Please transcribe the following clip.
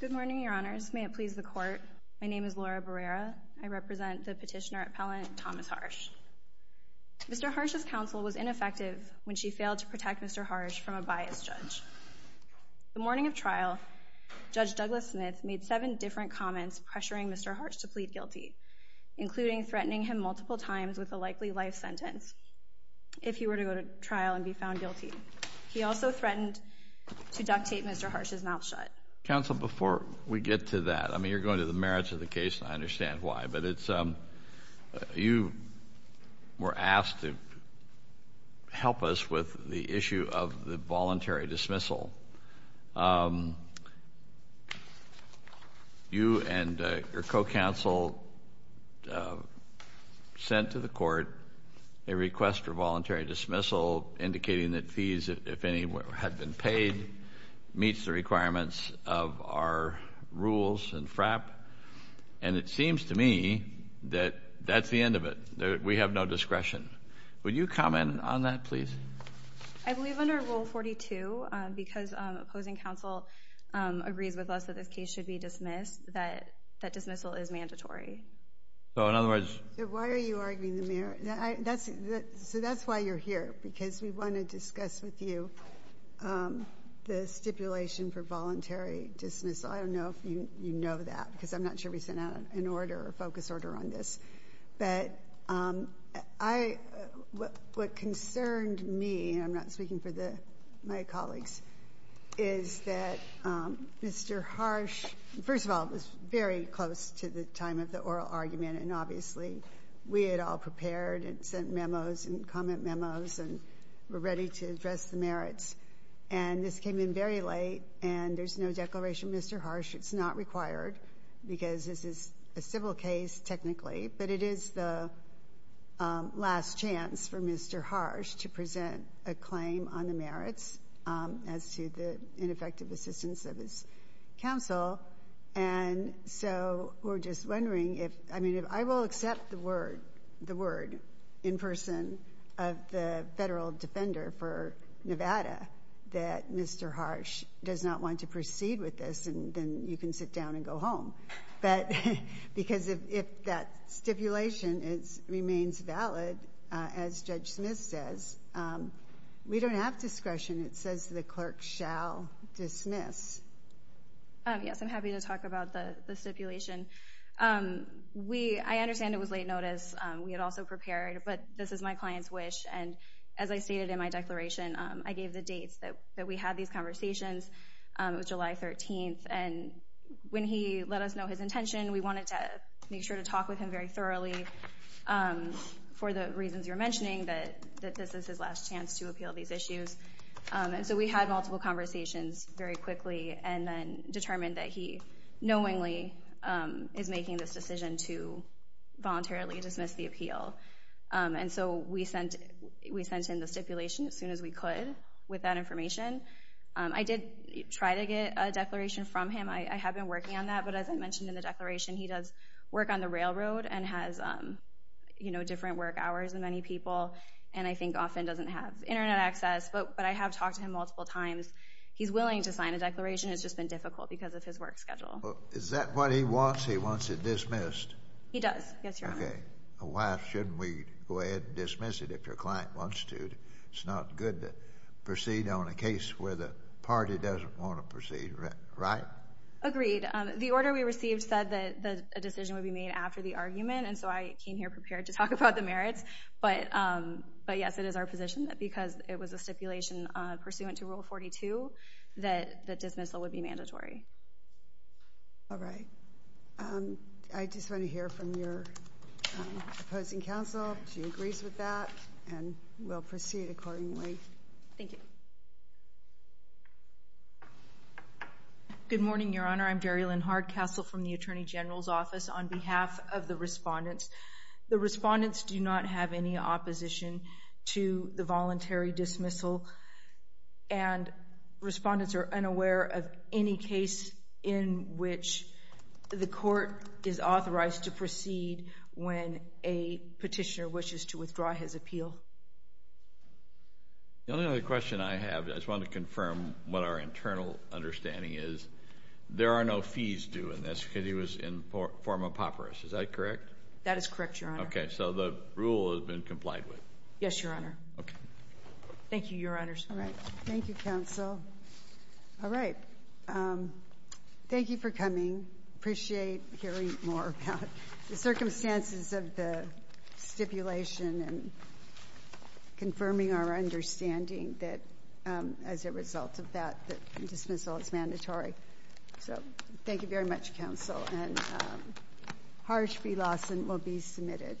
Good morning, Your Honors. May it please the Court, my name is Laura Barrera. I represent the petitioner appellant, Thomas Harsh. Mr. Harsh's counsel was ineffective when she failed to protect Mr. Harsh from a biased judge. The morning of trial, Judge Douglas Smith made seven different comments pressuring Mr. Harsh to plead guilty, including threatening him multiple times with a likely life sentence if he were to go to trial and be found guilty. He also threatened to duct tape Mr. Harsh's mouth shut. Counsel, before we get to that, I mean you're going to the merits of the case and I understand why, but it's, you were asked to help us with the issue of the voluntary dismissal. You and your co-counsel sent to the Court a request for voluntary dismissal indicating that fees, if any, had been paid, meets the requirements of our rules and FRAP, and it seems to me that that's the end of it. We have no discretion. Would you comment on that please? I believe under Rule 42, because opposing counsel agrees with us that this case should be dismissed, that dismissal is mandatory. So in other words... Why are you arguing the merits? So that's why you're here, because we want to discuss with you the stipulation for voluntary dismissal. I don't know if you know that, because I'm not sure we sent out an order, a focus order on this. But I, what concerned me, and I'm not speaking for the, my colleagues, is that Mr. Harsh, first of all, it was very close to the time of the oral argument, and obviously we had all prepared and sent memos and comment memos and were ready to address the merits. And this came in very late, and there's no Declaration of Mr. Harsh. It's not required, because this is a civil case, technically, but it is the last chance for Mr. Harsh to present a claim on the merits as to the ineffective assistance of his counsel. And so we're just wondering if, I mean, if I will accept the word, the word in person of the Federal Defender for Nevada, that Mr. Harsh does not want to proceed with this, and then you can sit down and go home. But, because if that stipulation remains valid, as Judge Smith says, we don't have discretion. It says the clerk shall dismiss. Yes, I'm happy to talk about the stipulation. We, I understand it was late notice. We had also prepared, but this is my client's wish, and as I stated in my declaration, I gave the dates that we had these conversations. It was July 13th, and when he let us know his intention, we wanted to make sure to talk with him very thoroughly for the reasons you're mentioning, that this is his last chance to appeal these issues. And so we had multiple conversations very quickly, and then determined that he knowingly is making this decision to voluntarily dismiss the appeal. And so we sent, we sent in the stipulation as soon as we could with that information. I did try to get a declaration from him. I have been working on that, but as I mentioned in the declaration, he does work on the railroad and has, you know, different work hours than many people, and I think often doesn't have internet access. But I have talked to him multiple times. He's willing to sign a declaration. It's just been difficult because of his work schedule. Is that what he wants? He wants it dismissed? He does, yes, Your Honor. Okay. Why shouldn't we go ahead and dismiss it if your client wants to? It's not good to proceed on a case where the party doesn't want to proceed, right? Agreed. The order we received said that a decision would be made after the argument, and so I came here prepared to talk about the merits, but yes, it is our position that because it was a stipulation pursuant to Rule 42, that the dismissal would be mandatory. All right. I just want to hear from your opposing counsel if she agrees with that, and we'll proceed accordingly. Thank you. Good morning, Your Honor. I'm Darielyn Hardcastle from the Attorney General's Office. On behalf of the respondents, the respondents do not have any opposition to the voluntary dismissal, and respondents are unaware of any case in which the court is authorized to proceed when a petitioner wishes to withdraw his appeal. The only other question I have, I just want to confirm what our internal understanding is. There are no fees due in this because he was in form of papyrus. Is that correct? That is correct, Your Honor. Okay. So the rule has been complied with? Yes, Your Honor. Okay. Thank you, Your Honors. All right. Thank you, counsel. All right. Thank you for coming. Appreciate hearing more about the circumstances of the stipulation and confirming our understanding that as a result of that, the dismissal is mandatory. So thank you very much, counsel, and Harsh V. Lawson will be submitted.